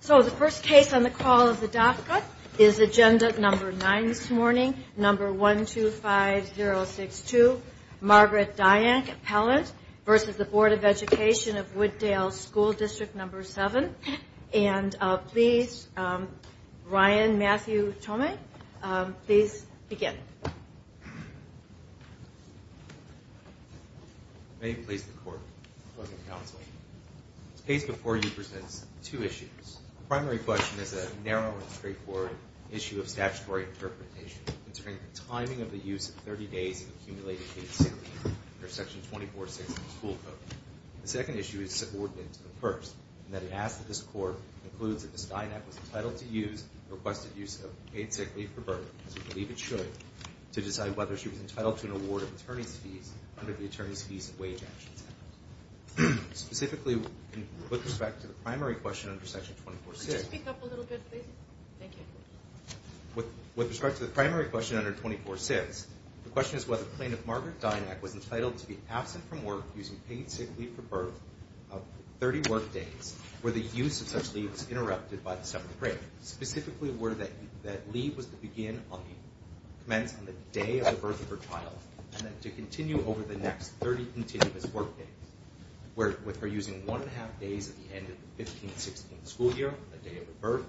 So the first case on the call of the DACA is agenda number 9 this morning, number 125062, Margaret Dynak-Pellant v. Board of Education of Wood Dale School District 7. And please, Ryan Matthew Tomei, please begin. May it please the Court, Mr. President and Counsel. This case before you presents two issues. The primary question is a narrow and straightforward issue of statutory interpretation concerning the timing of the use of 30 days of accumulated paid sick leave under Section 246 of the school code. The second issue is subordinate to the first, in that it asks that this Court conclude that Ms. Dynak was entitled to use the requested use of paid sick leave for burden, as we believe it should, to decide whether she was entitled to an award of attorney's fees under the Attorney's Fees and Wage Actions Act. Specifically, with respect to the primary question under Section 246. Could you speak up a little bit, please? Thank you. With respect to the primary question under 246, the question is whether the plaintiff, Margaret Dynak, was entitled to be absent from work using paid sick leave for burden up to 30 work days, where the use of such leave was interrupted by the seventh grade. Specifically, where that leave was to begin on the, commence on the day of the birth of her child, and then to continue over the next 30 continuous work days. Where, with her using one and a half days at the end of the 15-16 school year, the day of her birth,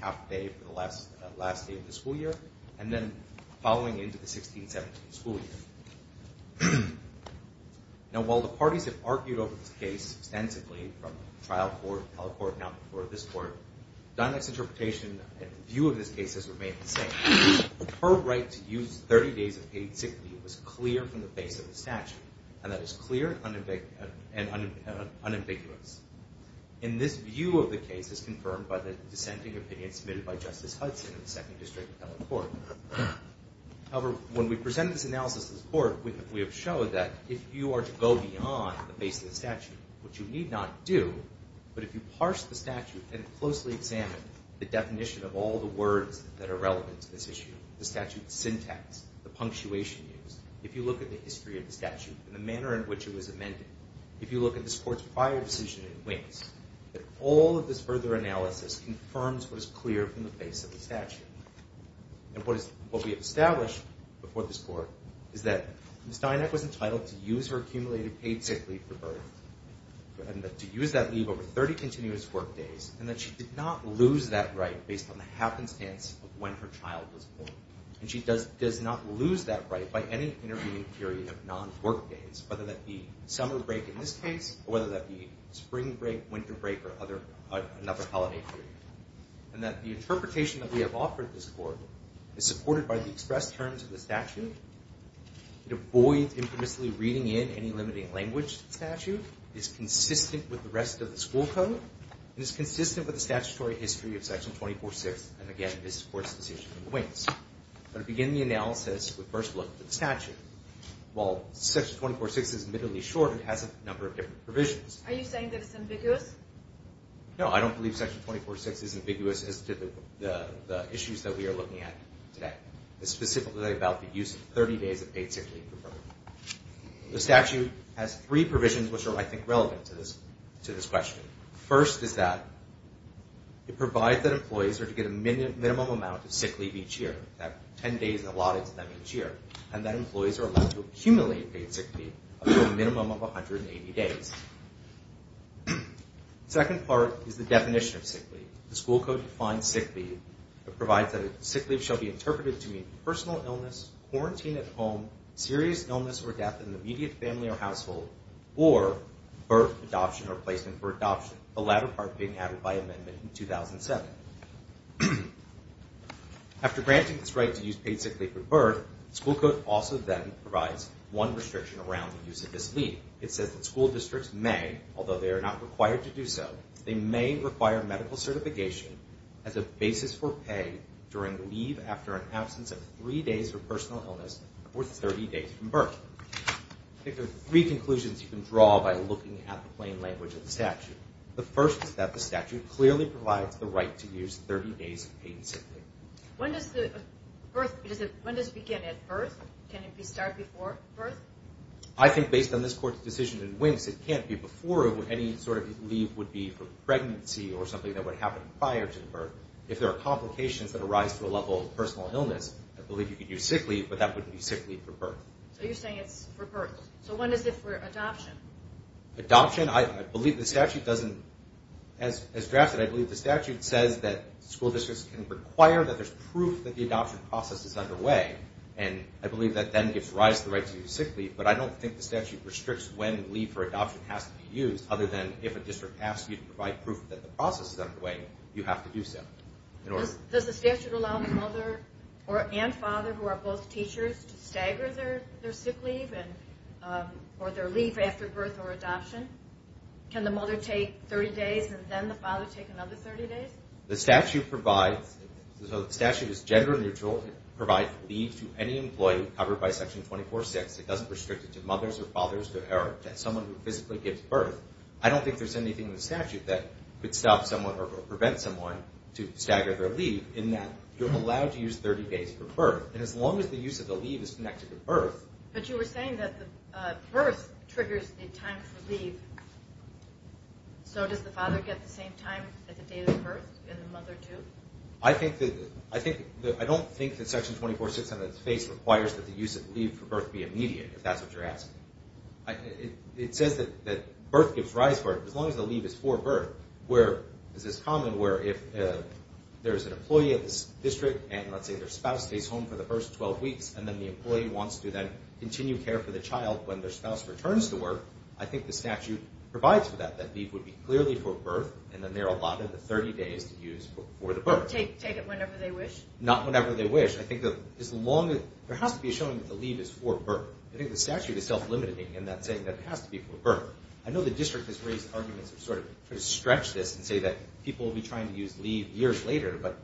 half day for the last day of the school year, and then following into the 16-17 school year. Now, while the parties have argued over this case extensively, from trial court, appellate court, now before this court, Dynak's interpretation and view of this case has remained the same. Her right to use 30 days of paid sick leave was clear from the base of the statute, and that is clear and unambiguous. And this view of the case is confirmed by the dissenting opinion submitted by Justice Hudson in the Second District Appellate Court. However, when we presented this analysis to the court, we have showed that if you are to go beyond the base of the statute, which you need not do, but if you parse the statute and closely examine the definition of all the words that are relevant to this issue, the statute's syntax, the punctuation used, if you look at the history of the statute and the manner in which it was amended, if you look at this court's prior decision in Wings, that all of this further analysis confirms what is clear from the base of the statute. And what we have established before this court is that Ms. Dynak was entitled to use her accumulated paid sick leave for birth, and to use that leave over 30 continuous work days, and that she did not lose that right based on the happenstance of when her child was born. And she does not lose that right by any intervening period of non-work days, whether that be summer break in this case, or whether that be spring break, winter break, or another holiday period. And that the interpretation that we have offered this court is supported by the express terms of the statute. It avoids infamously reading in any limiting language statute. It is consistent with the rest of the school code. It is consistent with the statutory history of Section 246, and again, this court's decision in Wings. But to begin the analysis, we first look at the statute. While Section 246 is admittedly short, it has a number of different provisions. Are you saying that it's ambiguous? No, I don't believe Section 246 is ambiguous as to the issues that we are looking at today. It's specifically about the use of 30 days of paid sick leave for birth. The statute has three provisions which are, I think, relevant to this question. The first is that it provides that employees are to get a minimum amount of sick leave each year, that 10 days are allotted to them each year, and that employees are allowed to accumulate paid sick leave up to a minimum of 180 days. The second part is the definition of sick leave. The school code defines sick leave. It provides that sick leave shall be interpreted to mean personal illness, quarantine at home, serious illness or death in the immediate family or household, or birth, adoption, or placement for adoption, the latter part being added by amendment in 2007. After granting this right to use paid sick leave for birth, the school code also then provides one restriction around the use of this leave. It says that school districts may, although they are not required to do so, they may require medical certification as a basis for pay during leave after an absence of three days or personal illness for 30 days from birth. I think there are three conclusions you can draw by looking at the plain language of the statute. The first is that the statute clearly provides the right to use 30 days of paid sick leave. When does the birth, when does it begin at birth? Can it be started before birth? I think based on this Court's decision in Winks, it can't be before. Any sort of leave would be for pregnancy or something that would happen prior to birth. If there are complications that arise to a level of personal illness, I believe you could use sick leave, but that wouldn't be sick leave for birth. So you're saying it's for birth. So when is it for adoption? Adoption, I believe the statute doesn't, as drafted, I believe the statute says that school districts can require that there's proof that the adoption process is underway, and I believe that then gives rise to the right to use sick leave, but I don't think the statute restricts when leave for adoption has to be used other than if a district asks you to provide proof that the process is underway, you have to do so. Does the statute allow the mother and father, who are both teachers, to stagger their sick leave or their leave after birth or adoption? Can the mother take 30 days and then the father take another 30 days? The statute provides, the statute is gender neutral. It provides leave to any employee covered by Section 246. It doesn't restrict it to mothers or fathers to inherit. Someone who physically gives birth, I don't think there's anything in the statute that could stop someone or prevent someone to stagger their leave, in that you're allowed to use 30 days for birth, and as long as the use of the leave is connected to birth. But you were saying that the birth triggers the time for leave. So does the father get the same time as the date of birth, and the mother too? I don't think that Section 246 on its face requires that the use of leave for birth be immediate, if that's what you're asking. It says that birth gives rise to birth, as long as the leave is for birth. Where is this common, where if there's an employee at the district, and let's say their spouse stays home for the first 12 weeks, and then the employee wants to then continue care for the child when their spouse returns to work, I think the statute provides for that, that leave would be clearly for birth, and then they're allowed another 30 days to use for the birth. Take it whenever they wish? Not whenever they wish. There has to be a showing that the leave is for birth. I think the statute is self-limiting in that saying that it has to be for birth. I know the district has raised arguments to sort of stretch this and say that people will be trying to use leave years later, but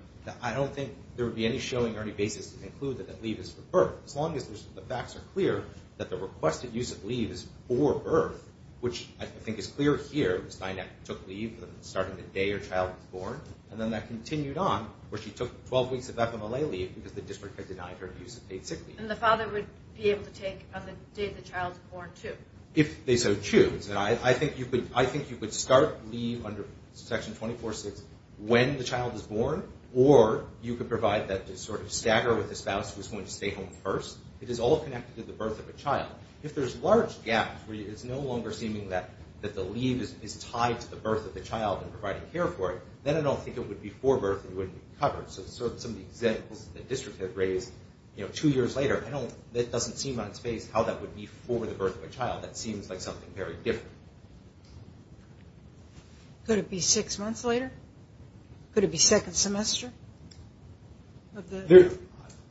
I don't think there would be any showing or any basis to conclude that that leave is for birth, as long as the facts are clear that the requested use of leave is for birth, which I think is clear here. Ms. Steinack took leave starting the day her child was born, and then that continued on where she took 12 weeks of FMLA leave because the district had denied her use of paid sick leave. And the father would be able to take on the day the child is born, too. If they so choose. I think you could start leave under Section 246 when the child is born, or you could provide that sort of stagger with the spouse who is going to stay home first. It is all connected to the birth of a child. If there's large gaps where it's no longer seeming that the leave is tied to the birth of the child and providing care for it, then I don't think it would be for birth and wouldn't be covered. So some of the examples the district had raised two years later, it doesn't seem on its face how that would be for the birth of a child. That seems like something very different. Could it be six months later? Could it be second semester?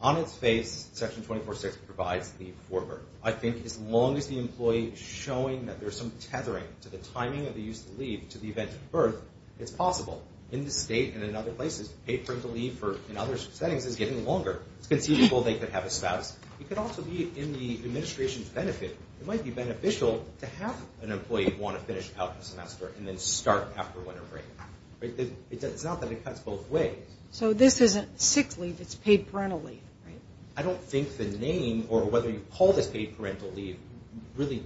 On its face, Section 246 provides leave for birth. I think as long as the employee is showing that there's some tethering to the timing of the use of leave to the event of birth, it's possible. In the state and in other places, paid parental leave in other settings is getting longer. It's conceivable they could have a spouse. It could also be in the administration's benefit. It might be beneficial to have an employee want to finish out the semester and then start after winter break. It's not that it cuts both ways. So this isn't sick leave. It's paid parental leave, right? I don't think the name or whether you call this paid parental leave really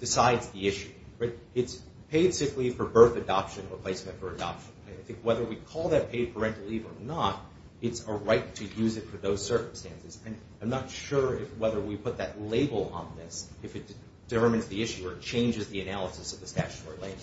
decides the issue. It's paid sick leave for birth adoption or placement for adoption. I think whether we call that paid parental leave or not, it's a right to use it for those circumstances. I'm not sure whether we put that label on this, if it determines the issue or changes the analysis of the statutory language.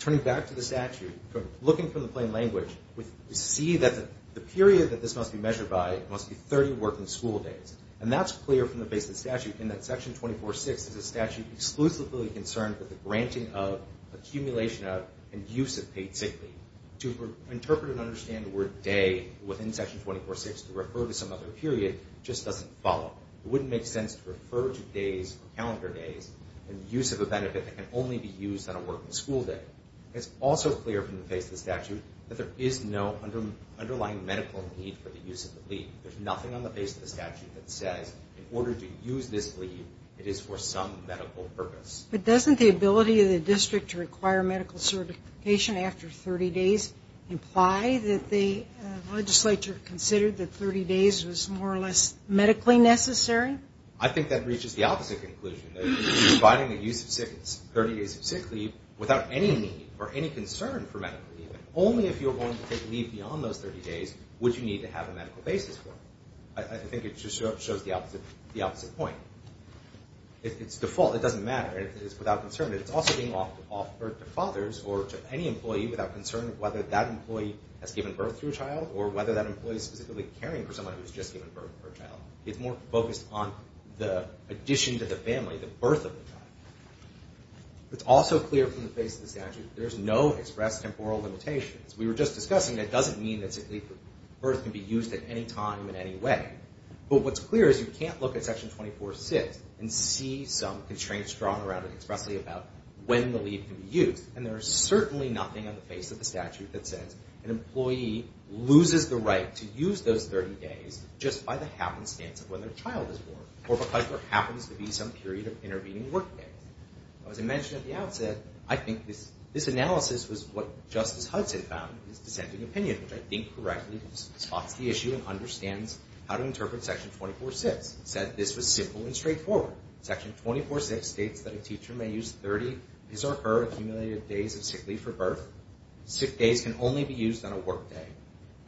Turning back to the statute, looking from the plain language, we see that the period that this must be measured by must be 30 working school days. And that's clear from the base of the statute in that Section 246 is a statute exclusively concerned with the granting of, accumulation of, and use of paid sick leave. To interpret and understand the word day within Section 246 to refer to some other period just doesn't follow. It wouldn't make sense to refer to days, calendar days, and use of a benefit that can only be used on a working school day. It's also clear from the base of the statute that there is no underlying medical need for the use of the leave. There's nothing on the base of the statute that says in order to use this leave, it is for some medical purpose. But doesn't the ability of the district to require medical certification after 30 days imply that the legislature considered that 30 days was more or less medically necessary? I think that reaches the opposite conclusion. Providing the use of 30 days of sick leave without any need or any concern for medical need, only if you're going to take leave beyond those 30 days would you need to have a medical basis for it. I think it just shows the opposite point. It's default. It doesn't matter. It's without concern. It's also being offered to fathers or to any employee without concern of whether that employee has given birth to a child or whether that employee is specifically caring for someone who has just given birth to a child. It's more focused on the addition to the family, the birth of the child. It's also clear from the base of the statute there's no express temporal limitations. We were just discussing that doesn't mean that sick leave for birth can be used at any time in any way. But what's clear is you can't look at Section 24-6 and see some constraints drawn around it expressly about when the leave can be used. And there is certainly nothing on the base of the statute that says an employee loses the right to use those 30 days just by the happenstance of when their child is born or because there happens to be some period of intervening work day. As I mentioned at the outset, I think this analysis was what Justice Hudson found in his dissenting opinion, which I think correctly spots the issue and understands how to interpret Section 24-6. He said this was simple and straightforward. Section 24-6 states that a teacher may use 30 his or her accumulated days of sick leave for birth. Sick days can only be used on a work day.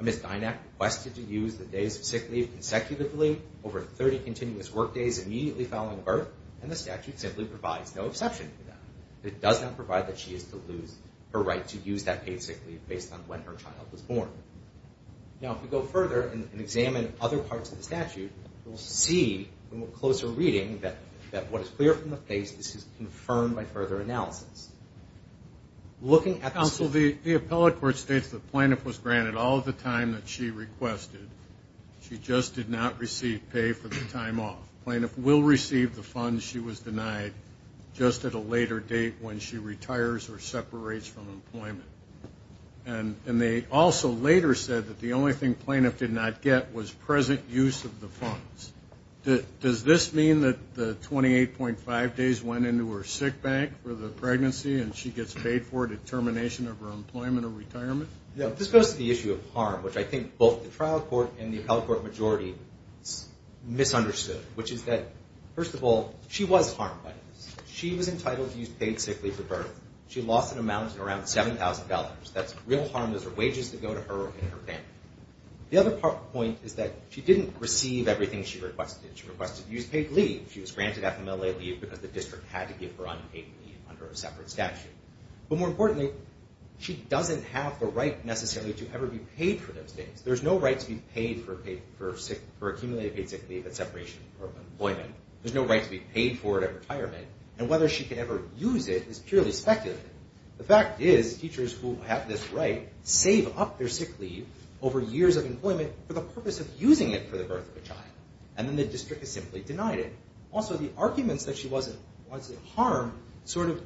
Ms. Dynack requested to use the days of sick leave consecutively over 30 continuous work days immediately following birth, and the statute simply provides no exception to that. It does not provide that she is to lose her right to use that paid sick leave based on when her child was born. Now, if we go further and examine other parts of the statute, we'll see from a closer reading that what is clear from the base is confirmed by further analysis. Counsel, the appellate court states the plaintiff was granted all of the time that she requested. She just did not receive pay for the time off. Plaintiff will receive the funds she was denied just at a later date when she retires or separates from employment. And they also later said that the only thing plaintiff did not get was present use of the funds. Does this mean that the 28.5 days went into her sick bank for the pregnancy and she gets paid for it at termination of her employment or retirement? This goes to the issue of harm, which I think both the trial court and the appellate court majority misunderstood, which is that, first of all, she was harmed by this. She was entitled to use paid sick leave for birth. She lost an amount of around $7,000. That's real harm. Those are wages that go to her and her family. The other point is that she didn't receive everything she requested. She requested used paid leave. She was granted FMLA leave because the district had to give her unpaid leave under a separate statute. But more importantly, she doesn't have the right necessarily to ever be paid for those things. There's no right to be paid for accumulated paid sick leave at separation from employment. There's no right to be paid for it at retirement. And whether she could ever use it is purely speculative. The fact is teachers who have this right save up their sick leave over years of employment for the purpose of using it for the birth of a child. And then the district has simply denied it. Also, the arguments that she wasn't harmed sort of,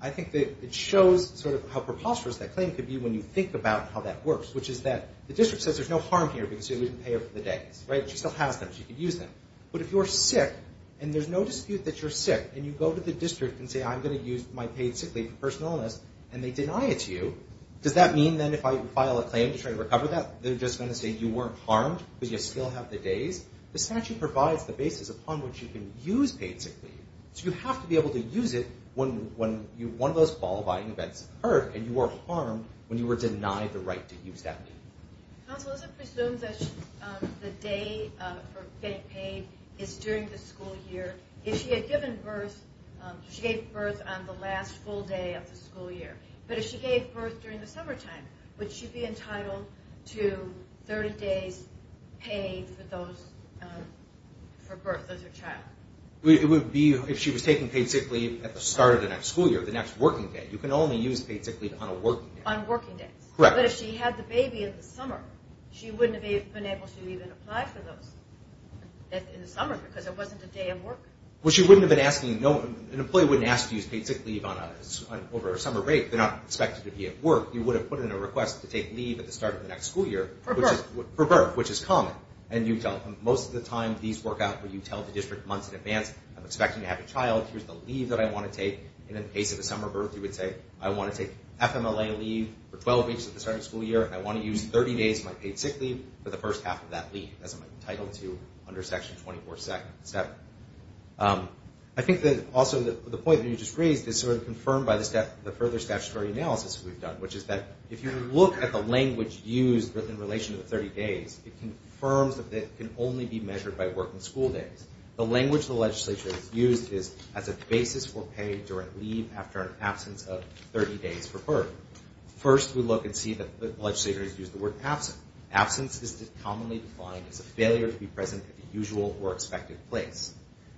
I think, it shows sort of how preposterous that claim could be when you think about how that works, which is that the district says there's no harm here because she wasn't paid for the days. She still has them. She can use them. But if you're sick and there's no dispute that you're sick and you go to the district and say, I'm going to use my paid sick leave for personal illness, and they deny it to you, does that mean then if I file a claim to try to recover that, they're just going to say you weren't harmed because you still have the days? The statute provides the basis upon which you can use paid sick leave. So you have to be able to use it when one of those qualifying events occurred and you were harmed when you were denied the right to use that leave. Counsel, is it presumed that the day for getting paid is during the school year? If she had given birth, she gave birth on the last full day of the school year, but if she gave birth during the summertime, would she be entitled to 30 days paid for birth as her child? It would be if she was taking paid sick leave at the start of the next school year, the next working day. You can only use paid sick leave on a working day. On working days. Correct. But if she had the baby in the summer, she wouldn't have been able to even apply for those in the summer because it wasn't a day of work? An employee wouldn't ask to use paid sick leave over a summer break. They're not expected to be at work. You would have put in a request to take leave at the start of the next school year. For birth. For birth, which is common. Most of the time, these work out where you tell the district months in advance. I'm expecting to have a child. Here's the leave that I want to take. In the case of a summer birth, you would say, I want to take FMLA leave for 12 weeks at the start of the school year and I want to use 30 days of my paid sick leave for the first half of that leave as I'm entitled to under Section 24-7. I think that also the point that you just raised is sort of confirmed by the further statutory analysis we've done, which is that if you look at the language used in relation to the 30 days, it confirms that it can only be measured by working school days. The language the legislature has used is as a basis for paid direct leave after an absence of 30 days for birth. First, we look and see that the legislature has used the word absence. Absence is commonly defined as a failure to be present at the usual or expected place.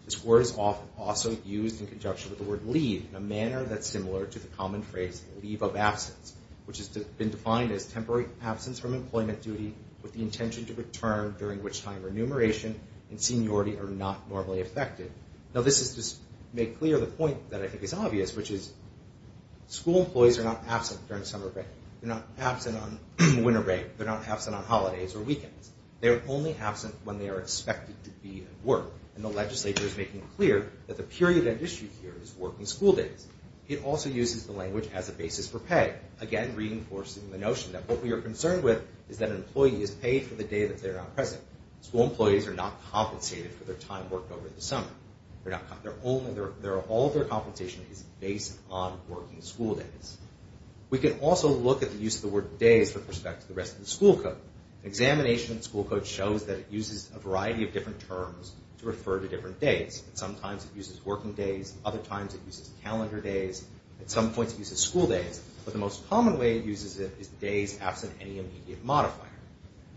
This word is also used in conjunction with the word leave in a manner that's similar to the common phrase leave of absence, which has been defined as temporary absence from employment duty with the intention to return during which time remuneration and seniority are not normally affected. Now, this is to make clear the point that I think is obvious, which is school employees are not absent during summer break. They're not absent on winter break. They're not absent on holidays or weekends. They're only absent when they are expected to be at work, and the legislature is making clear that the period at issue here is working school days. It also uses the language as a basis for pay, again reinforcing the notion that what we are concerned with is that an employee is paid for the day that they're not present. School employees are not compensated for their time worked over the summer. All of their compensation is based on working school days. We can also look at the use of the word days with respect to the rest of the school code. Examination of the school code shows that it uses a variety of different terms to refer to different days. Sometimes it uses working days. Other times it uses calendar days. At some points it uses school days, but the most common way it uses it is days absent any immediate modifier.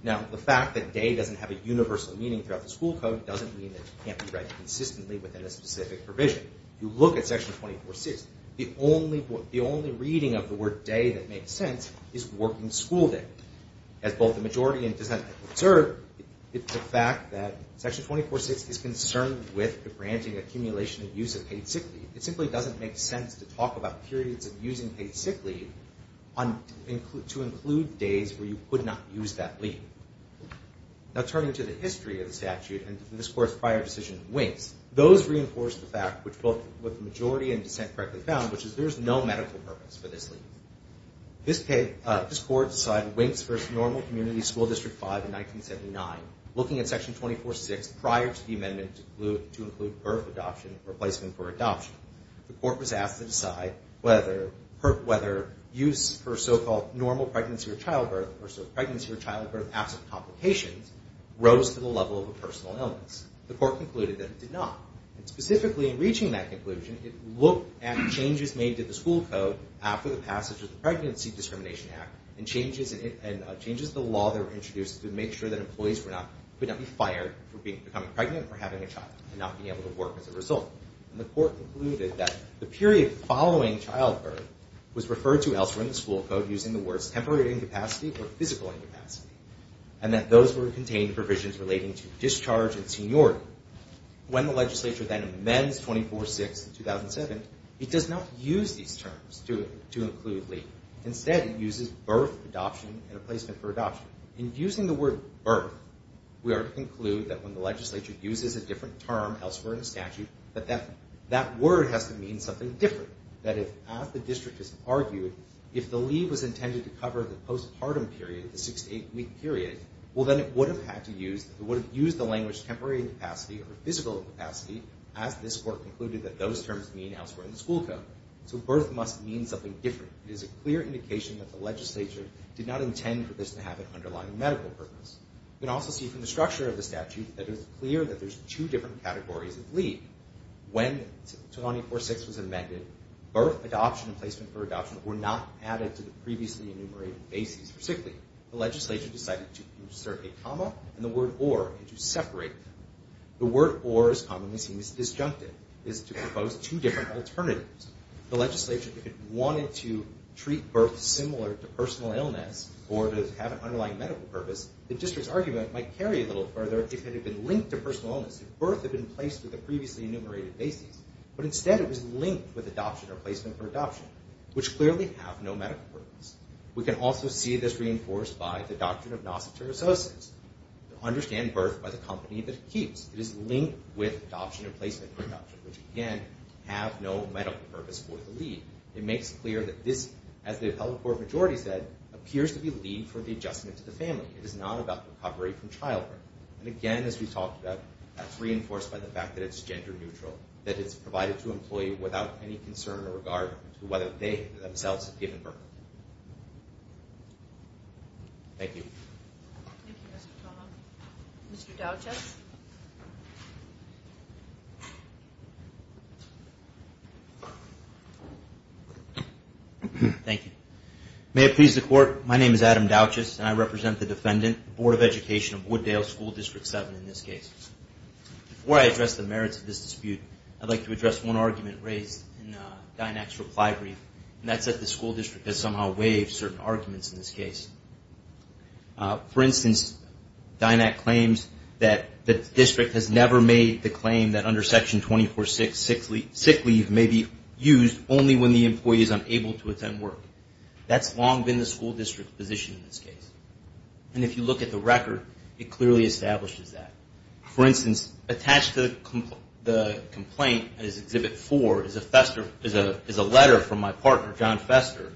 Now, the fact that day doesn't have a universal meaning throughout the school code doesn't mean that it can't be read consistently within a specific provision. If you look at Section 24.6, the only reading of the word day that makes sense is working school day. As both the majority and dissent have observed, it's a fact that Section 24.6 is concerned with granting accumulation of use of paid sick leave. It simply doesn't make sense to talk about periods of using paid sick leave to include days where you could not use that leave. Now, turning to the history of the statute and the discourse prior to the decision in Winks, those reinforce the fact which both the majority and dissent correctly found, which is there is no medical purpose for this leave. This court decided in Winks v. Normal Community School District 5 in 1979, looking at Section 24.6 prior to the amendment to include birth adoption in replacement for adoption, the court was asked to decide whether use for so-called normal pregnancy or childbirth or pregnancy or childbirth absent complications rose to the level of a personal illness. The court concluded that it did not. Specifically, in reaching that conclusion, it looked at changes made to the school code after the passage of the Pregnancy Discrimination Act and changes to the law that were introduced to make sure that employees could not be fired for becoming pregnant or having a child and not being able to work as a result. The court concluded that the period following childbirth was referred to elsewhere in the school code using the words temporary incapacity or physical incapacity and that those were contained provisions relating to discharge and seniority. When the legislature then amends 24.6 in 2007, it does not use these terms to include leave. Instead, it uses birth adoption in replacement for adoption. In using the word birth, we are to conclude that when the legislature uses a different term elsewhere in the statute, that that word has to mean something different. That is, as the district has argued, if the leave was intended to cover the postpartum period, the six to eight week period, well then it would have used the language temporary incapacity or physical incapacity as this court concluded that those terms mean elsewhere in the school code. So birth must mean something different. It is a clear indication that the legislature did not intend for this to have an underlying medical purpose. You can also see from the structure of the statute that it is clear that there are two different categories of leave. When 24.6 was amended, birth adoption and placement for adoption were not added to the previously enumerated bases for sick leave. The legislature decided to insert a comma and the word or to separate them. The word or, as commonly seen, is disjunctive. It is to propose two different alternatives. The legislature, if it wanted to treat birth similar to personal illness or to have an underlying medical purpose, the district's argument might carry a little further if it had been linked to personal illness. If birth had been placed with the previously enumerated bases, but instead it was linked with adoption or placement for adoption, which clearly have no medical purpose. We can also see this reinforced by the doctrine of nosoteriososis, to understand birth by the company that it keeps. It is linked with adoption or placement for adoption, which again have no medical purpose for the leave. It makes clear that this, as the appellate court majority said, appears to be leave for the adjustment to the family. It is not about recovery from childbirth. And again, as we talked about, that's reinforced by the fact that it's gender neutral, that it's provided to an employee without any concern or regard to whether they themselves have given birth. Thank you. Thank you, Mr. Toma. Mr. Douches. Thank you. May it please the court, my name is Adam Douches and I represent the defendant, Board of Education of Wooddale School District 7 in this case. Before I address the merits of this dispute, I'd like to address one argument raised in Dynack's reply brief, and that's that the school district has somehow waived certain arguments in this case. For instance, Dynack claims that the district has never made the claim that under Section 24-6, sick leave may be used only when the employee is unable to attend work. That's long been the school district's position in this case. And if you look at the record, it clearly establishes that. For instance, attached to the complaint is Exhibit 4, is a letter from my partner, John Fester,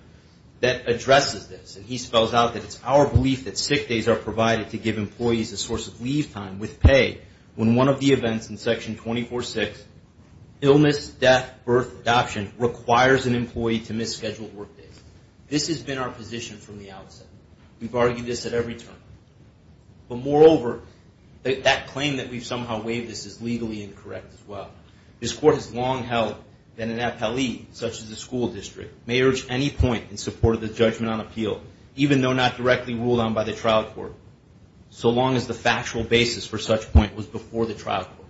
that addresses this. And he spells out that it's our belief that sick days are provided to give employees a source of leave time with pay when one of the events in Section 24-6, illness, death, birth, adoption, requires an employee to miss scheduled work days. This has been our position from the outset. We've argued this at every turn. But moreover, that claim that we've somehow waived this is legally incorrect as well. This court has long held that an FLE, such as a school district, may urge any point in support of the judgment on appeal, even though not directly ruled on by the trial court, so long as the factual basis for such point was before the trial court.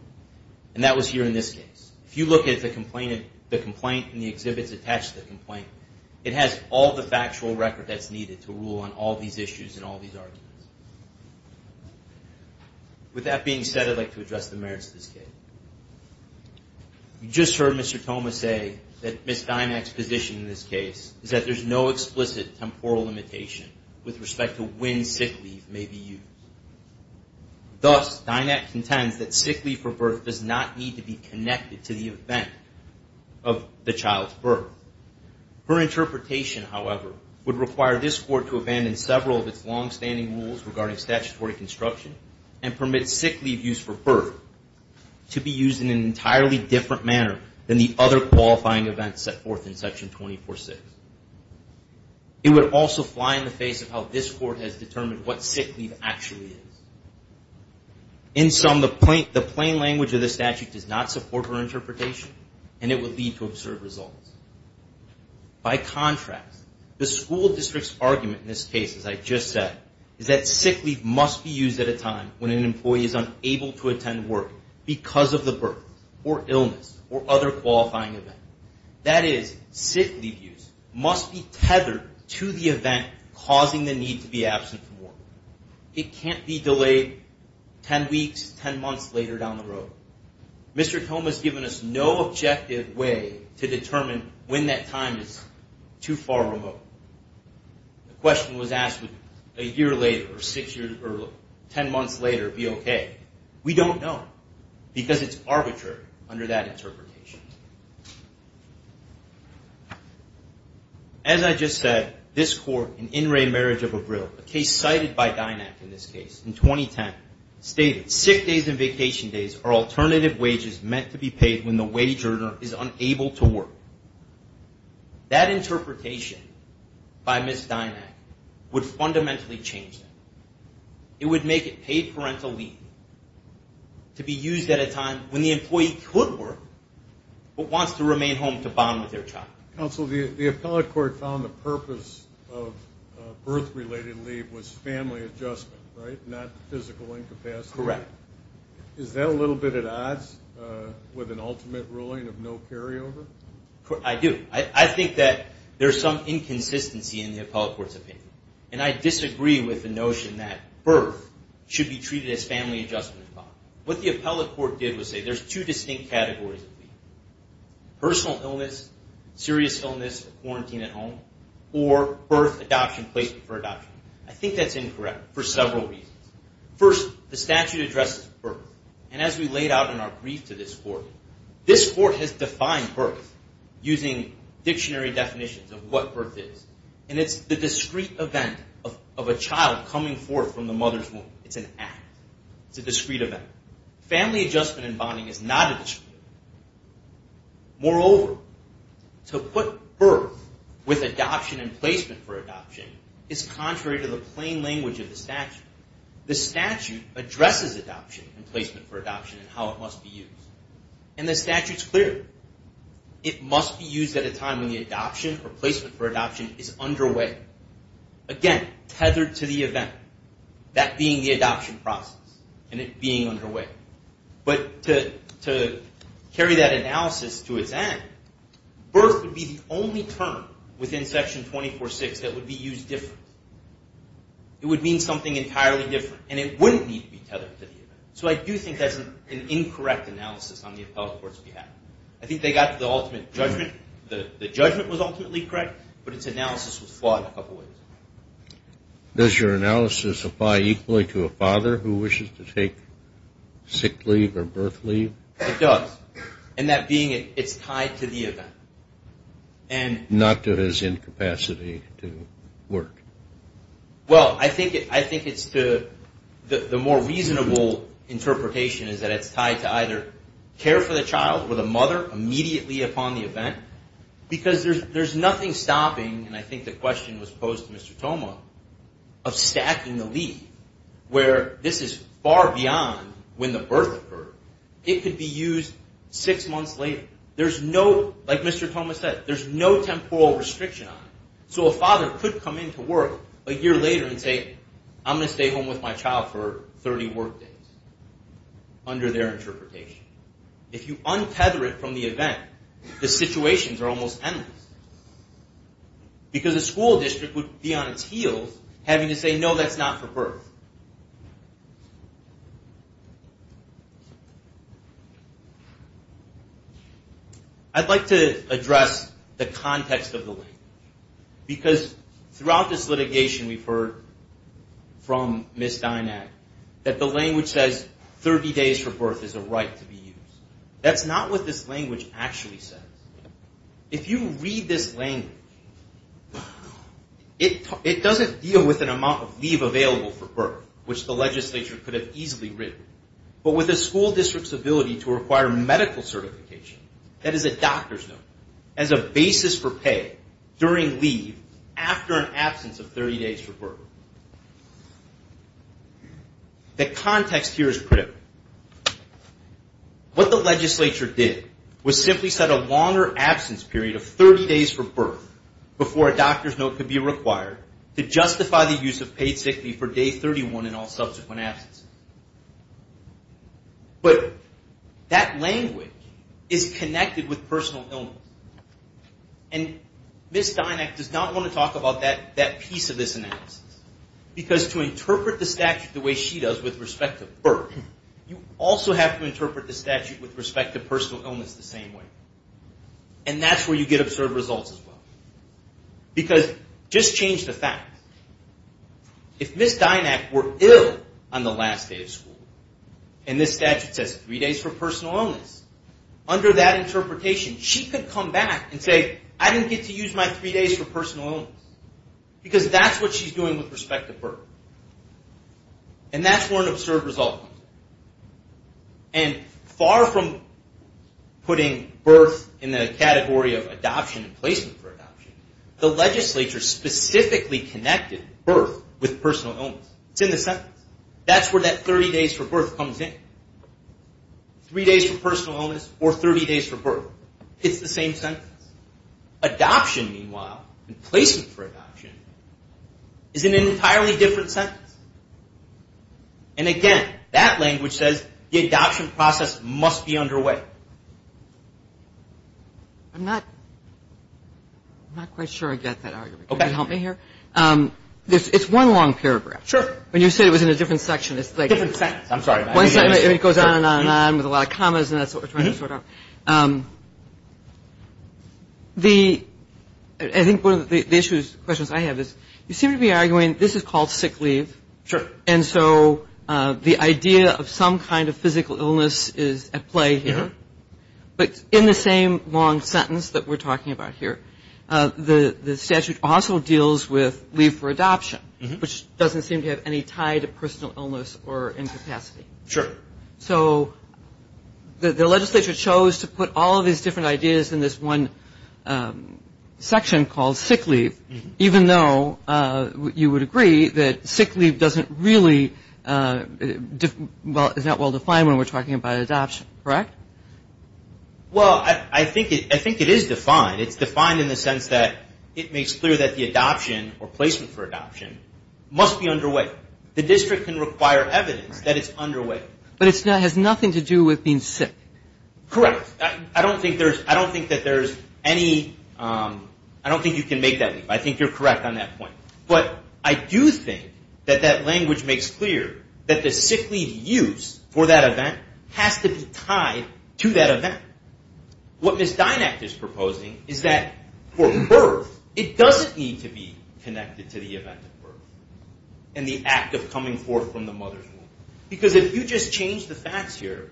And that was here in this case. If you look at the complaint and the exhibits attached to the complaint, it has all the factual record that's needed to rule on all these issues and all these arguments. With that being said, I'd like to address the merits of this case. You just heard Mr. Thoma say that Ms. Dynack's position in this case is that there's no explicit temporal limitation with respect to when sick leave may be used. Thus, Dynack contends that sick leave for birth does not need to be connected to the event of the child's birth. Her interpretation, however, would require this court to abandon several of its longstanding rules regarding statutory construction and permit sick leave used for birth to be used in an entirely different manner than the other qualifying events set forth in Section 246. It would also fly in the face of how this court has determined what sick leave actually is. In sum, the plain language of the statute does not support her interpretation, and it would lead to absurd results. By contrast, the school district's argument in this case, as I just said, is that sick leave must be used at a time when an employee is unable to attend work because of the birth or illness or other qualifying event. That is, sick leave use must be tethered to the event causing the need to be absent from work. It can't be delayed 10 weeks, 10 months later down the road. Mr. Tome has given us no objective way to determine when that time is too far remote. The question was asked would a year later or six years or 10 months later be okay. We don't know because it's arbitrary under that interpretation. As I just said, this court in In Re Marriage of Abril, a case cited by Dynac in this case in 2010, stated sick days and vacation days are alternative wages meant to be paid when the wage earner is unable to work. That interpretation by Ms. Dynac would fundamentally change that. It would make it paid parental leave to be used at a time when the employee could work but wants to remain home to bond with their child. Counsel, the appellate court found the purpose of birth-related leave was family adjustment, right, not physical incapacity. Correct. Is that a little bit at odds with an ultimate ruling of no carryover? I do. I think that there's some inconsistency in the appellate court's opinion, and I disagree with the notion that birth should be treated as family adjustment. What the appellate court did was say there's two distinct categories of leave, personal illness, serious illness, quarantine at home, or birth, adoption, placement for adoption. I think that's incorrect for several reasons. First, the statute addresses birth, and as we laid out in our brief to this court, this court has defined birth using dictionary definitions of what birth is, and it's the discrete event of a child coming forth from the mother's womb. It's an act. It's a discrete event. Family adjustment and bonding is not a discrete event. Moreover, to put birth with adoption and placement for adoption is contrary to the plain language of the statute. The statute addresses adoption and placement for adoption and how it must be used, and the statute's clear. It must be used at a time when the adoption or placement for adoption is underway. Again, tethered to the event, that being the adoption process and it being underway. But to carry that analysis to its end, birth would be the only term within Section 246 that would be used differently. It would mean something entirely different, and it wouldn't need to be tethered to the event. So I do think that's an incorrect analysis on the appellate court's behalf. I think they got the ultimate judgment. The judgment was ultimately correct, but its analysis was flawed a couple of ways. Does your analysis apply equally to a father who wishes to take sick leave or birth leave? It does. And that being it, it's tied to the event. Not to his incapacity to work. Well, I think it's the more reasonable interpretation is that it's tied to either care for the child or the mother immediately upon the event, because there's nothing stopping, and I think the question was posed to Mr. Toma, of stacking the leave, where this is far beyond when the birth occurred. It could be used six months later. There's no, like Mr. Toma said, there's no temporal restriction on it. So a father could come into work a year later and say, I'm going to stay home with my child for 30 work days, under their interpretation. If you untether it from the event, the situations are almost endless. Because a school district would be on its heels having to say, no, that's not for birth. I'd like to address the context of the language. Because throughout this litigation we've heard from Ms. Dynack that the language says 30 days for birth is a right to be used. That's not what this language actually says. If you read this language, it doesn't deal with an amount of leave available for birth, which the legislature could have easily written. But with a school district's ability to require medical certification, that is a doctor's note, as a basis for pay during leave after an absence of 30 days for birth. The context here is critical. What the legislature did was simply set a longer absence period of 30 days for birth before a doctor's note could be required to justify the use of paid sick leave for day 31 in all subsequent absences. But that language is connected with personal illness. And Ms. Dynack does not want to talk about that piece of this analysis. Because to interpret the statute the way she does with respect to birth, you also have to interpret the statute with respect to personal illness the same way. And that's where you get absurd results as well. Because just change the facts. If Ms. Dynack were ill on the last day of school, and this statute says three days for personal illness, under that interpretation she could come back and say, I didn't get to use my three days for personal illness. Because that's what she's doing with respect to birth. And that's where an absurd result comes in. And far from putting birth in the category of adoption and placement for adoption, the legislature specifically connected birth with personal illness. It's in the sentence. That's where that 30 days for birth comes in. Three days for personal illness or 30 days for birth. It's the same sentence. Adoption, meanwhile, and placement for adoption is in an entirely different sentence. And again, that language says the adoption process must be underway. All right. I'm not quite sure I get that argument. Can you help me here? It's one long paragraph. Sure. When you say it was in a different section, it's like one sentence. I'm sorry. It goes on and on and on with a lot of commas, and that's what we're trying to sort out. I think one of the questions I have is you seem to be arguing this is called sick leave. Sure. And so the idea of some kind of physical illness is at play here. But in the same long sentence that we're talking about here, the statute also deals with leave for adoption, which doesn't seem to have any tie to personal illness or incapacity. Sure. So the legislature chose to put all of these different ideas in this one section called sick leave, even though you would agree that sick leave is not well defined when we're talking about adoption, correct? Well, I think it is defined. It's defined in the sense that it makes clear that the adoption or placement for adoption must be underway. The district can require evidence that it's underway. But it has nothing to do with being sick. Correct. I don't think you can make that leave. I think you're correct on that point. But I do think that that language makes clear that the sick leave use for that event has to be tied to that event. What Ms. Dynack is proposing is that for birth it doesn't need to be connected to the event at birth and the act of coming forth from the mother's womb. Because if you just change the facts here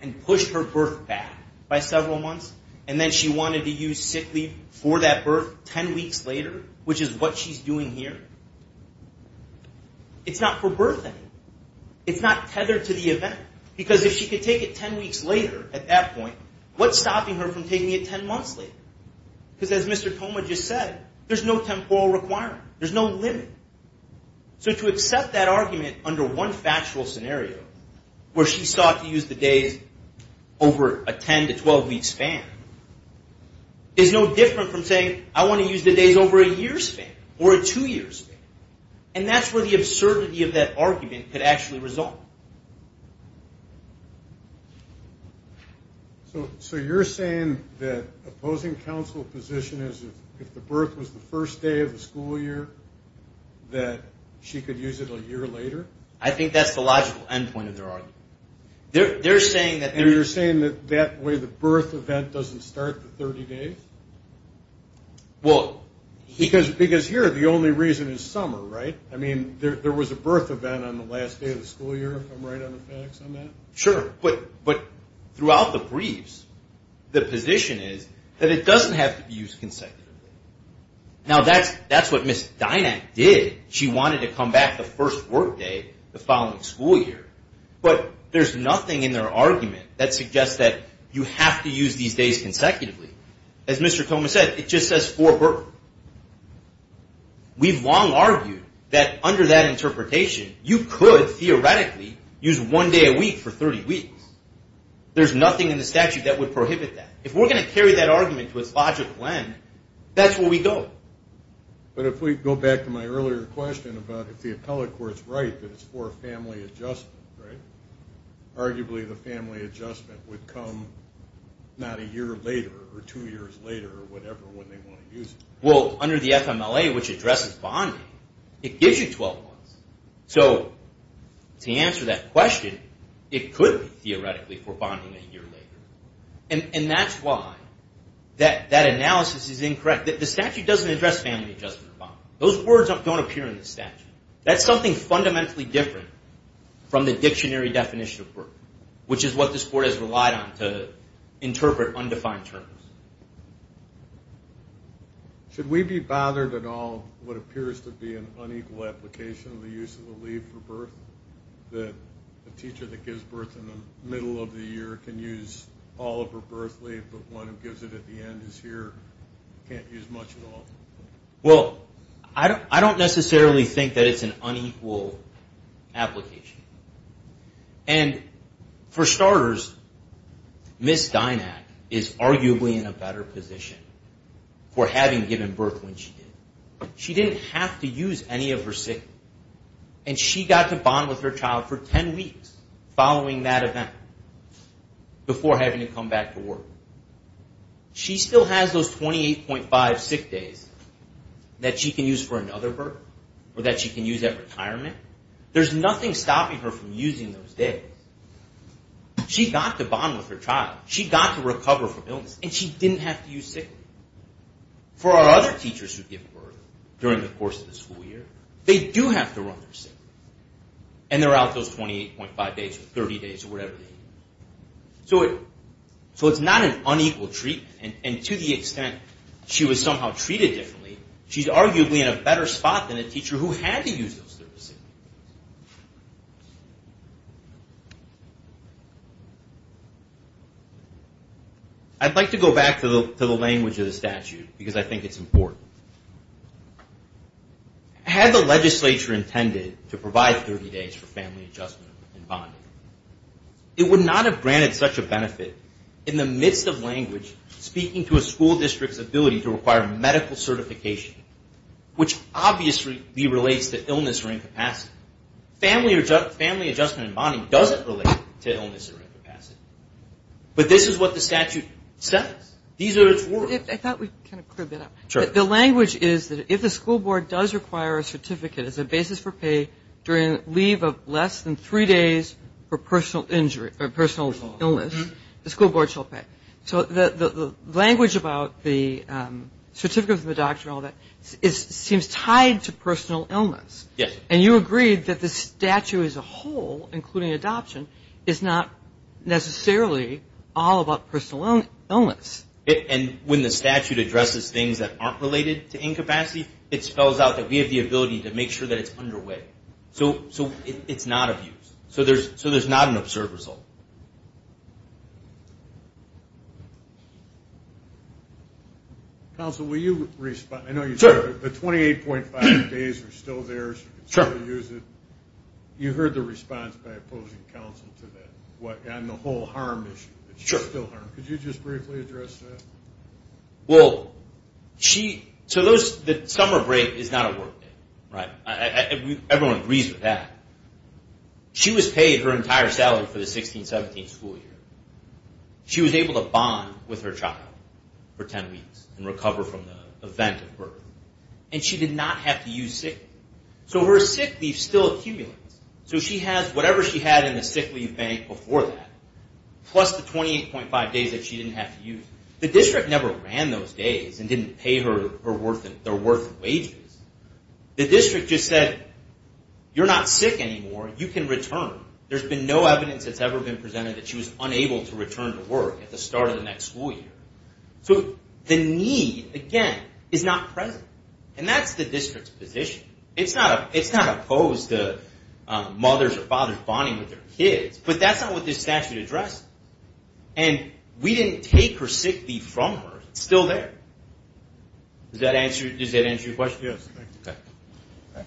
and push her birth back by several months and then she wanted to use sick leave for that birth ten weeks later, which is what she's doing here, it's not for birthing. It's not tethered to the event. Because if she could take it ten weeks later at that point, what's stopping her from taking it ten months later? Because as Mr. Thoma just said, there's no temporal requirement. There's no limit. So to accept that argument under one factual scenario where she sought to use the days over a ten to twelve week span is no different from saying I want to use the days over a year span or a two year span. And that's where the absurdity of that argument could actually result. So you're saying that opposing counsel position is if the birth was the first day of the school year that she could use it a year later? I think that's the logical end point of their argument. And you're saying that that way the birth event doesn't start the 30 days? Because here the only reason is summer, right? I mean, there was a birth event on the last day of the school year, if I'm right on the facts on that? Sure. But throughout the briefs, the position is that it doesn't have to be used consecutively. Now, that's what Ms. Dynack did. She wanted to come back the first work day the following school year. But there's nothing in their argument that suggests that you have to use these days consecutively. As Mr. Thoma said, it just says for birth. We've long argued that under that interpretation, you could theoretically use one day a week for 30 weeks. There's nothing in the statute that would prohibit that. If we're going to carry that argument to its logical end, that's where we go. But if we go back to my earlier question about if the appellate court's right that it's for family adjustment, right? Arguably the family adjustment would come not a year later or two years later or whatever when they want to use it. Well, under the FMLA, which addresses bonding, it gives you 12 months. So to answer that question, it could be theoretically for bonding a year later. And that's why that analysis is incorrect. The statute doesn't address family adjustment or bonding. Those words don't appear in the statute. That's something fundamentally different from the dictionary definition of birth, which is what this court has relied on to interpret undefined terms. Should we be bothered at all what appears to be an unequal application of the use of a leave for birth? That a teacher that gives birth in the middle of the year can use all of her birth leave, but one who gives it at the end of the year can't use much at all? Well, I don't necessarily think that it's an unequal application. And for starters, Ms. Dynack is arguably in a better position for having given birth when she did. She didn't have to use any of her sick leave. And she got to bond with her child for 10 weeks following that event before having to come back to work. She still has those 28.5 sick days that she can use for another birth or that she can use at retirement. There's nothing stopping her from using those days. She got to bond with her child. She got to recover from illness. And she didn't have to use sick leave. For our other teachers who give birth during the course of the school year, they do have to run their sick leave. And they're out those 28.5 days or 30 days or whatever they need. So it's not an unequal treatment. And to the extent she was somehow treated differently, she's arguably in a better spot than a teacher who had to use those 30 sick days. I'd like to go back to the language of the statute because I think it's important. Had the legislature intended to provide 30 days for family adjustment and bonding, it would not have granted such a benefit in the midst of language speaking to a school district's ability to require medical certification, which obviously relates to illness or incapacity. Family adjustment and bonding doesn't relate to illness or incapacity. But this is what the statute says. These are its words. I thought we kind of cleared that up. Sure. The language is that if the school board does require a certificate as a basis for pay during leave of less than three days for personal injury or personal illness, the school board shall pay. So the language about the certificate from the doctor and all that seems tied to personal illness. Yes. And you agreed that the statute as a whole, including adoption, is not necessarily all about personal illness. And when the statute addresses things that aren't related to incapacity, it spells out that we have the ability to make sure that it's underway. So it's not abuse. So there's not an absurd result. Counsel, will you respond? I know you said the 28.5 days are still there, so you can still use it. You heard the response by opposing counsel to that and the whole harm issue. Could you just briefly address that? Well, the summer break is not a work day. Everyone agrees with that. She was paid her entire salary for the 16-17 school year. She was able to bond with her child for 10 weeks and recover from the event of birth. And she did not have to use sick leave. So her sick leave still accumulates. So she has whatever she had in the sick leave bank before that, plus the 28.5 days that she didn't have to use. The district never ran those days and didn't pay her her worth of wages. The district just said, you're not sick anymore. You can return. There's been no evidence that's ever been presented that she was unable to return to work at the start of the next school year. So the need, again, is not present. And that's the district's position. It's not opposed to mothers or fathers bonding with their kids. But that's not what this statute addressed. And we didn't take her sick leave from her. It's still there. Does that answer your question? Yes. Okay.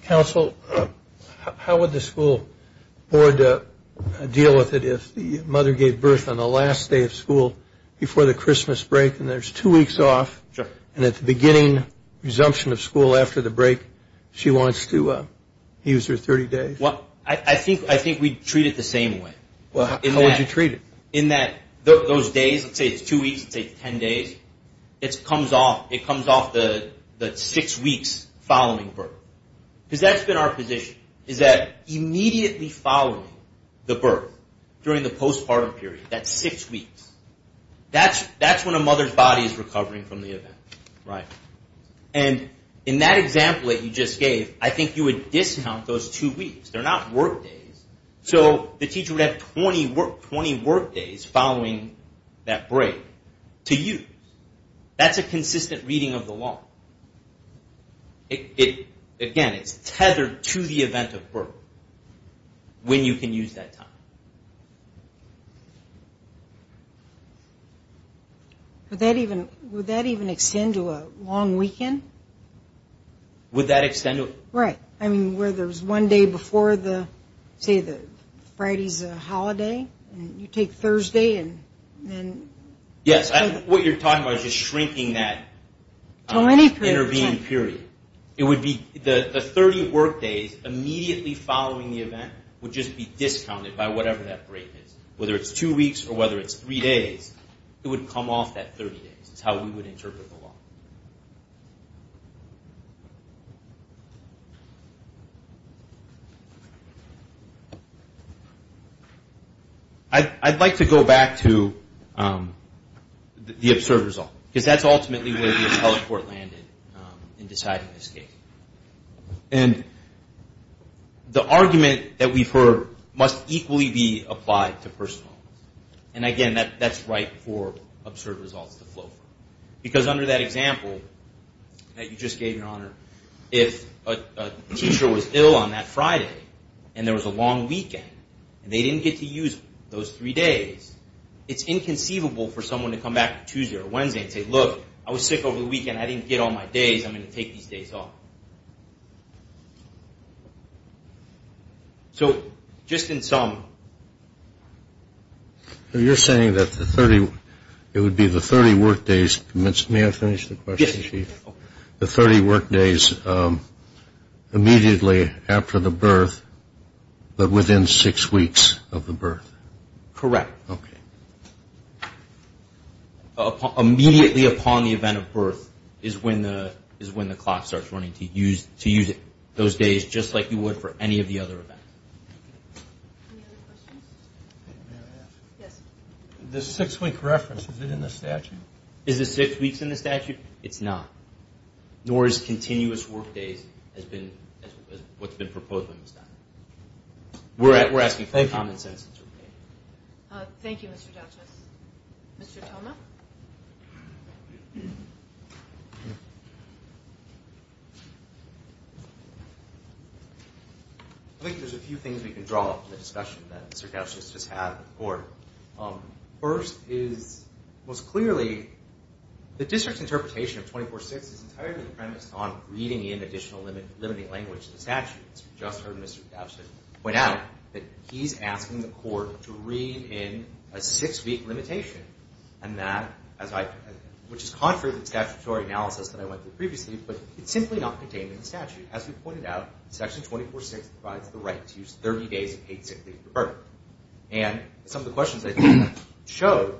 Counsel, how would the school board deal with it if the mother gave birth on the last day of school before the Christmas break and there's two weeks off and at the beginning, resumption of school after the break, she wants to use her 30 days? Well, I think we'd treat it the same way. How would you treat it? In that those days, let's say it's two weeks, let's say it's 10 days, it comes off the six weeks following birth. Because that's been our position, is that immediately following the birth during the postpartum period, that six weeks, that's when a mother's body is recovering from the event. Right. And in that example that you just gave, I think you would discount those two weeks. They're not work days. So the teacher would have 20 work days following that break to use. That's a consistent reading of the law. Again, it's tethered to the event of birth when you can use that time. Would that even extend to a long weekend? Would that extend to a... Right. I mean, where there's one day before the, say, the Friday's a holiday and you take Thursday and then... Yes. What you're talking about is just shrinking that intervening period. It would be the 30 work days immediately following the event would just be discounted by whatever that break is. Whether it's two weeks or whether it's three days, it would come off that 30 days. It's how we would interpret the law. I'd like to go back to the absurd result because that's ultimately where the appellate court landed in deciding this case. And the argument that we've heard must equally be applied to personal. Again, that's right for absurd results to flow from. Because under that example that you just gave, Your Honor, if a teacher was ill on that Friday and there was a long weekend and they didn't get to use those three days, it's inconceivable for someone to come back on Tuesday or Wednesday and say, look, I was sick over the weekend. I didn't get all my days. I'm going to take these days off. So just in sum... You're saying that it would be the 30 work days. May I finish the question, Chief? Yes. The 30 work days immediately after the birth but within six weeks of the birth. Correct. Okay. Immediately upon the event of birth is when the clock starts running to use those days just like you would for any of the other events. Any other questions? May I ask? Yes. The six-week reference, is it in the statute? Is it six weeks in the statute? It's not. Nor is continuous work days what's been proposed by Ms. Dunn. We're asking for common sense. Thank you. Thank you, Mr. Douches. Mr. Toma? I think there's a few things we can draw off the discussion that Mr. Douches just had with the court. First is, most clearly, the district's interpretation of 24-6 is entirely premised on reading in additional limiting language in the statute. As we just heard Mr. Douches point out, that he's asking the court to read in a six-week limitation, which is contrary to the statutory analysis that I went through previously, but it's simply not contained in the statute. As we pointed out, Section 24-6 provides the right to use 30 days of paid sick leave for birth. And some of the questions that you showed,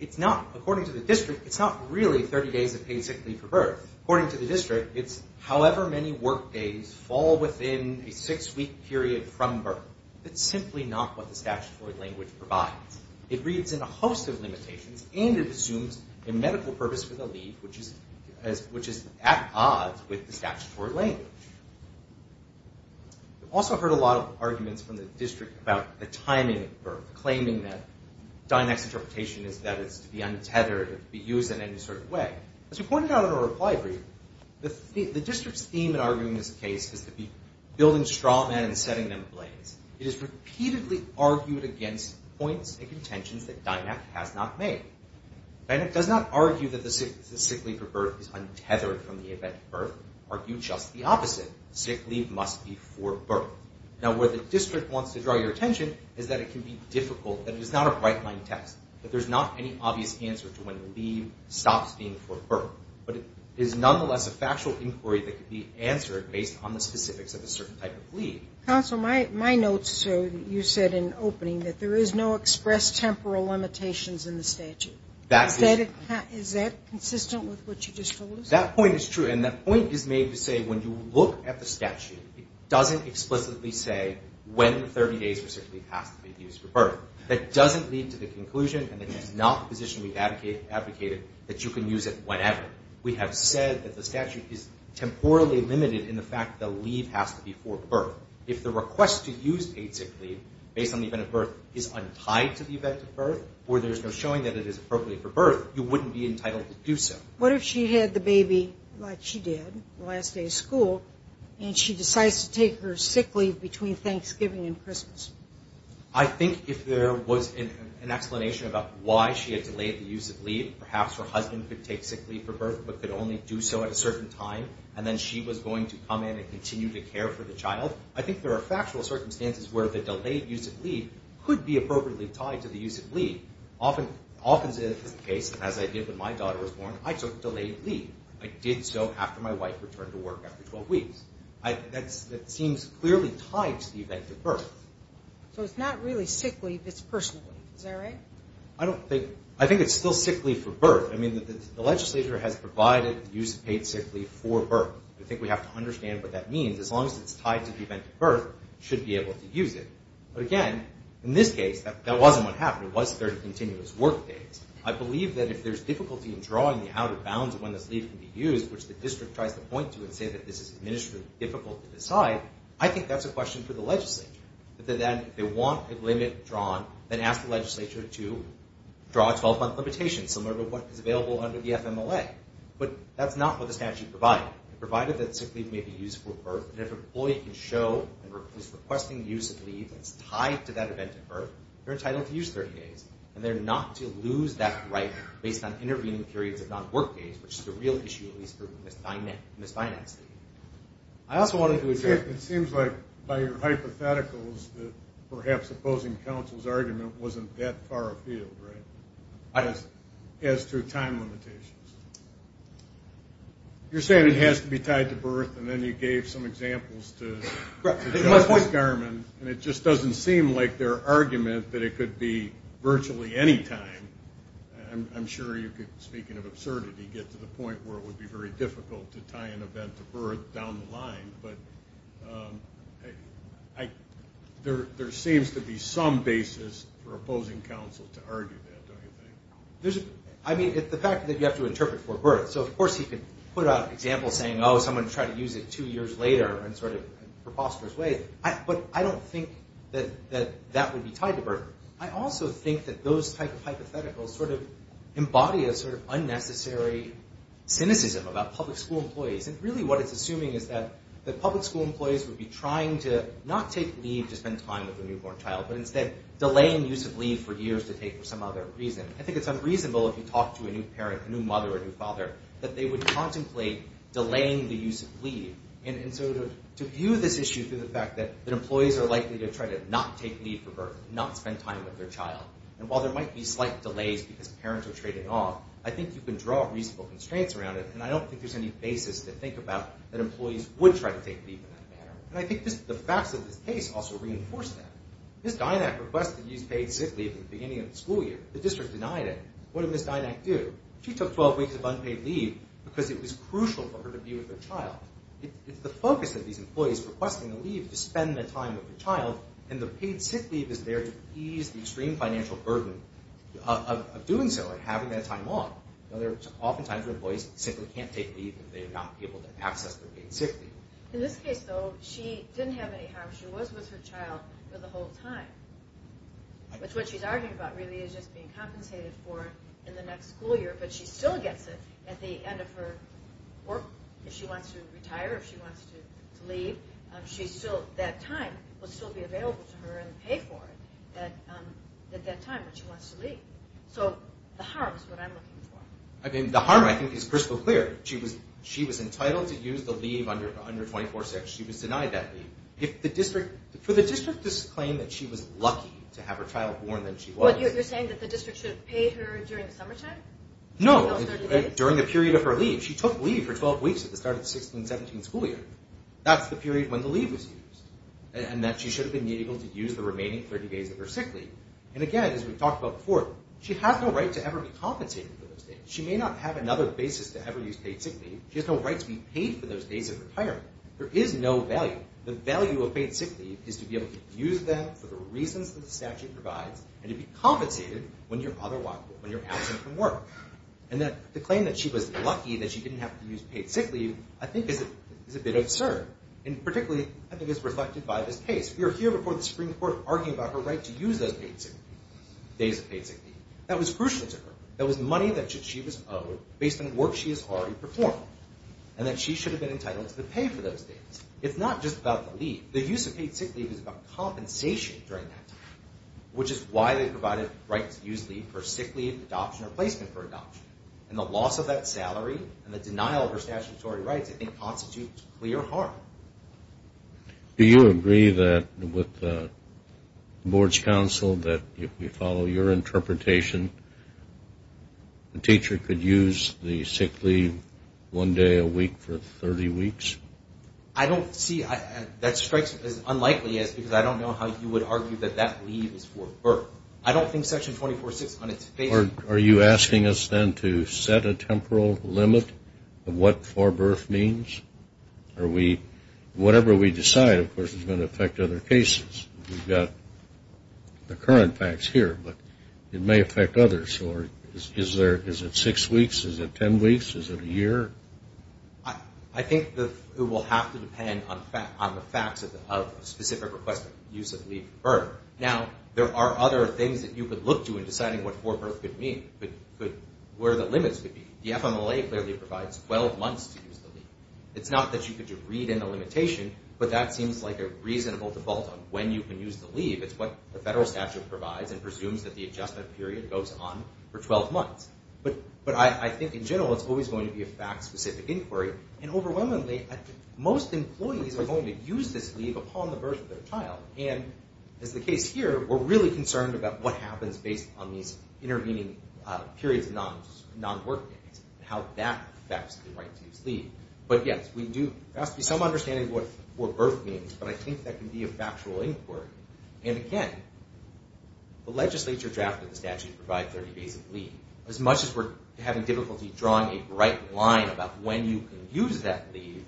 it's not. According to the district, it's not really 30 days of paid sick leave for birth. According to the district, it's however many work days fall within a six-week period from birth. It's simply not what the statutory language provides. It reads in a host of limitations, and it assumes a medical purpose for the leave, which is at odds with the statutory language. We've also heard a lot of arguments from the district about the timing of birth, claiming that Dynac's interpretation is that it's to be untethered, to be used in any sort of way. As we pointed out in our reply brief, the district's theme in arguing this case is to be building straw men and setting them blades. It is repeatedly argued against points and contentions that Dynac has not made. Dynac does not argue that the sick leave for birth is untethered from the event of birth, argue just the opposite, sick leave must be for birth. Now, where the district wants to draw your attention is that it can be difficult, that it is not a bright-line test, that there's not any obvious answer to when the leave stops being for birth, but it is nonetheless a factual inquiry that can be answered based on the specifics of a certain type of leave. Counsel, my notes, sir, you said in opening that there is no express temporal limitations in the statute. Is that consistent with what you just told us? That point is true, and that point is made to say when you look at the statute, it doesn't explicitly say when 30 days for sick leave has to be used for birth. That doesn't lead to the conclusion, and that is not the position we've advocated, that you can use it whenever. We have said that the statute is temporally limited in the fact that the leave has to be for birth. If the request to use paid sick leave based on the event of birth is untied to the event of birth or there's no showing that it is appropriate for birth, you wouldn't be entitled to do so. What if she had the baby like she did the last day of school, and she decides to take her sick leave between Thanksgiving and Christmas? I think if there was an explanation about why she had delayed the use of leave, perhaps her husband could take sick leave for birth but could only do so at a certain time, and then she was going to come in and continue to care for the child, I think there are factual circumstances where the delayed use of leave could be appropriately tied to the use of leave. Often it is the case, as I did when my daughter was born, I took delayed leave. I did so after my wife returned to work after 12 weeks. That seems clearly tied to the event of birth. So it's not really sick leave, it's personal leave. Is that right? I think it's still sick leave for birth. The legislature has provided the use of paid sick leave for birth. I think we have to understand what that means. As long as it's tied to the event of birth, you should be able to use it. But again, in this case, that wasn't what happened. It was their continuous work days. I believe that if there's difficulty in drawing the outer bounds of when this leave can be used, which the district tries to point to and say that this is administratively difficult to decide, I think that's a question for the legislature. If they want a limit drawn, then ask the legislature to draw a 12-month limitation, similar to what is available under the FMLA. But that's not what the statute provided. It provided that sick leave may be used for birth, and if an employee can show that he's requesting the use of leave that's tied to that event of birth, they're entitled to use 30 days. And they're not to lose that right based on intervening periods of non-work days, which is the real issue, at least for misfinanced leave. It seems like by your hypotheticals that perhaps opposing counsel's argument wasn't that far afield, right? As to time limitations. You're saying it has to be tied to birth, and then you gave some examples to Josh Garman, and it just doesn't seem like their argument that it could be virtually any time. I'm sure you could, speaking of absurdity, get to the point where it would be very difficult to tie an event to birth down the line. But there seems to be some basis for opposing counsel to argue that, don't you think? I mean, the fact that you have to interpret for birth. So of course he could put out an example saying, oh, someone tried to use it two years later in sort of preposterous ways. But I don't think that that would be tied to birth. I also think that those type of hypotheticals sort of embody a sort of unnecessary cynicism about public school employees. And really what it's assuming is that public school employees would be trying to not take leave to spend time with a newborn child, but instead delaying use of leave for years to take for some other reason. I think it's unreasonable if you talk to a new parent, a new mother or a new father, that they would contemplate delaying the use of leave. And so to view this issue through the fact that employees are likely to try to not take leave for birth, not spend time with their child, and while there might be slight delays because parents are trading off, I think you can draw reasonable constraints around it, and I don't think there's any basis to think about that employees would try to take leave in that manner. And I think the facts of this case also reinforce that. Ms. Dynack requested to use paid sick leave at the beginning of the school year. The district denied it. What did Ms. Dynack do? She took 12 weeks of unpaid leave because it was crucial for her to be with her child. It's the focus of these employees requesting the leave to spend the time with their child, and the paid sick leave is there to ease the extreme financial burden of doing so and having that time off. Oftentimes, employees simply can't take leave if they're not able to access their paid sick leave. In this case, though, she didn't have any harm. She was with her child for the whole time, which what she's arguing about really is just being compensated for in the next school year, but she still gets it at the end of her work. If she wants to retire, if she wants to leave, that time will still be available to her and pay for it at that time when she wants to leave. So the harm is what I'm looking for. I mean, the harm, I think, is crystal clear. She was entitled to use the leave under 24-6. She was denied that leave. For the district to claim that she was lucky to have her child born, then she was. You're saying that the district should have paid her during the summertime? No, during the period of her leave. She took leave for 12 weeks at the start of the 16th and 17th school year. That's the period when the leave was used, and that she should have been able to use the remaining 30 days of her sick leave. And again, as we've talked about before, she has no right to ever be compensated for those days. She may not have another basis to ever use paid sick leave. She has no right to be paid for those days of retirement. There is no value. The value of paid sick leave is to be able to use them for the reasons that the statute provides and to be compensated when you're absent from work. And the claim that she was lucky that she didn't have to use paid sick leave, I think, is a bit absurd. And particularly, I think, it's reflected by this case. We are here before the Supreme Court arguing about her right to use those days of paid sick leave. That was crucial to her. That was money that she was owed based on work she has already performed, and that she should have been entitled to pay for those days. It's not just about the leave. The use of paid sick leave is about compensation during that time, which is why they provided rights to use leave for sick leave, adoption, or placement for adoption. And the loss of that salary and the denial of her statutory rights, I think, constitutes clear harm. Do you agree that with the board's counsel, that if we follow your interpretation, the teacher could use the sick leave one day a week for 30 weeks? I don't see that strikes me as unlikely, because I don't know how you would argue that that leave is for birth. I don't think Section 24.6 on its face. Are you asking us, then, to set a temporal limit of what for birth means? Whatever we decide, of course, is going to affect other cases. We've got the current facts here, but it may affect others. Is it six weeks? Is it ten weeks? Is it a year? I think it will have to depend on the facts of a specific request for use of leave for birth. Now, there are other things that you could look to in deciding what for birth could mean, but where the limits would be. The FMLA clearly provides 12 months to use the leave. It's not that you could read in the limitation, but that seems like a reasonable default on when you can use the leave. It's what the federal statute provides and presumes that the adjustment period goes on for 12 months. But I think, in general, it's always going to be a fact-specific inquiry. And overwhelmingly, most employees are going to use this leave upon the birth of their child. And as the case here, we're really concerned about what happens based on these intervening periods of non-work days and how that affects the right to use leave. But yes, there has to be some understanding of what for birth means, but I think that can be a factual inquiry. And again, the legislature drafted the statute to provide 30 days of leave. As much as we're having difficulty drawing a bright line about when you can use that leave,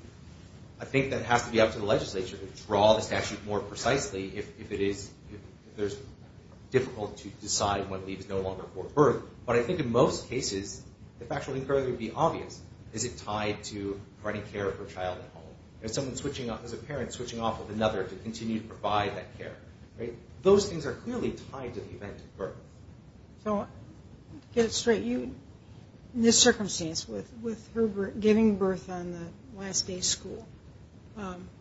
I think that has to be up to the legislature to draw the statute more precisely if it is difficult to decide when leave is no longer for birth. But I think in most cases, the factual inquiry would be obvious. Is it tied to providing care for a child at home? Is a parent switching off with another to continue to provide that care? Those things are clearly tied to the event at birth. So, to get it straight, in this circumstance, with her giving birth on the last day of school,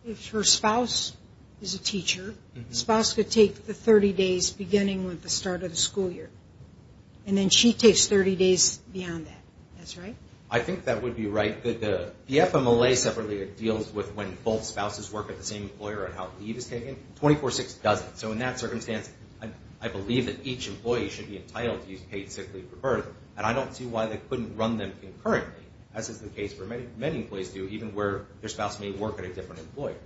if her spouse is a teacher, the spouse could take the 30 days beginning with the start of the school year. And then she takes 30 days beyond that. That's right? I think that would be right. The FMLA separately deals with when both spouses work at the same employer and how leave is taken. 24-6 doesn't. So, in that circumstance, I believe that each employee should be entitled to use paid sick leave for birth. And I don't see why they couldn't run them concurrently, as is the case where many employees do, even where their spouse may work at a different employer.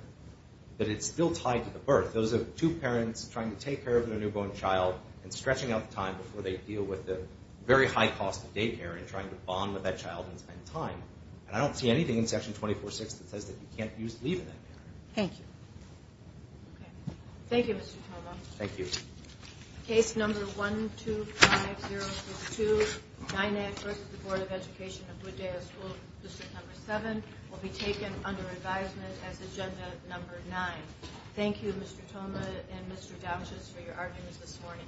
But it's still tied to the birth. Those are two parents trying to take care of their newborn child and stretching out the time before they deal with the very high cost of daycare and trying to bond with that child and spend time. And I don't see anything in Section 24-6 that says that you can't use leave in that manner. Thank you. Okay. Thank you, Mr. Toma. Thank you. Case number 125062, NINAC versus the Board of Education of Wooddale School, District Number 7, will be taken under advisement as Agenda Number 9. Thank you, Mr. Toma and Mr. Douches, for your arguments this morning.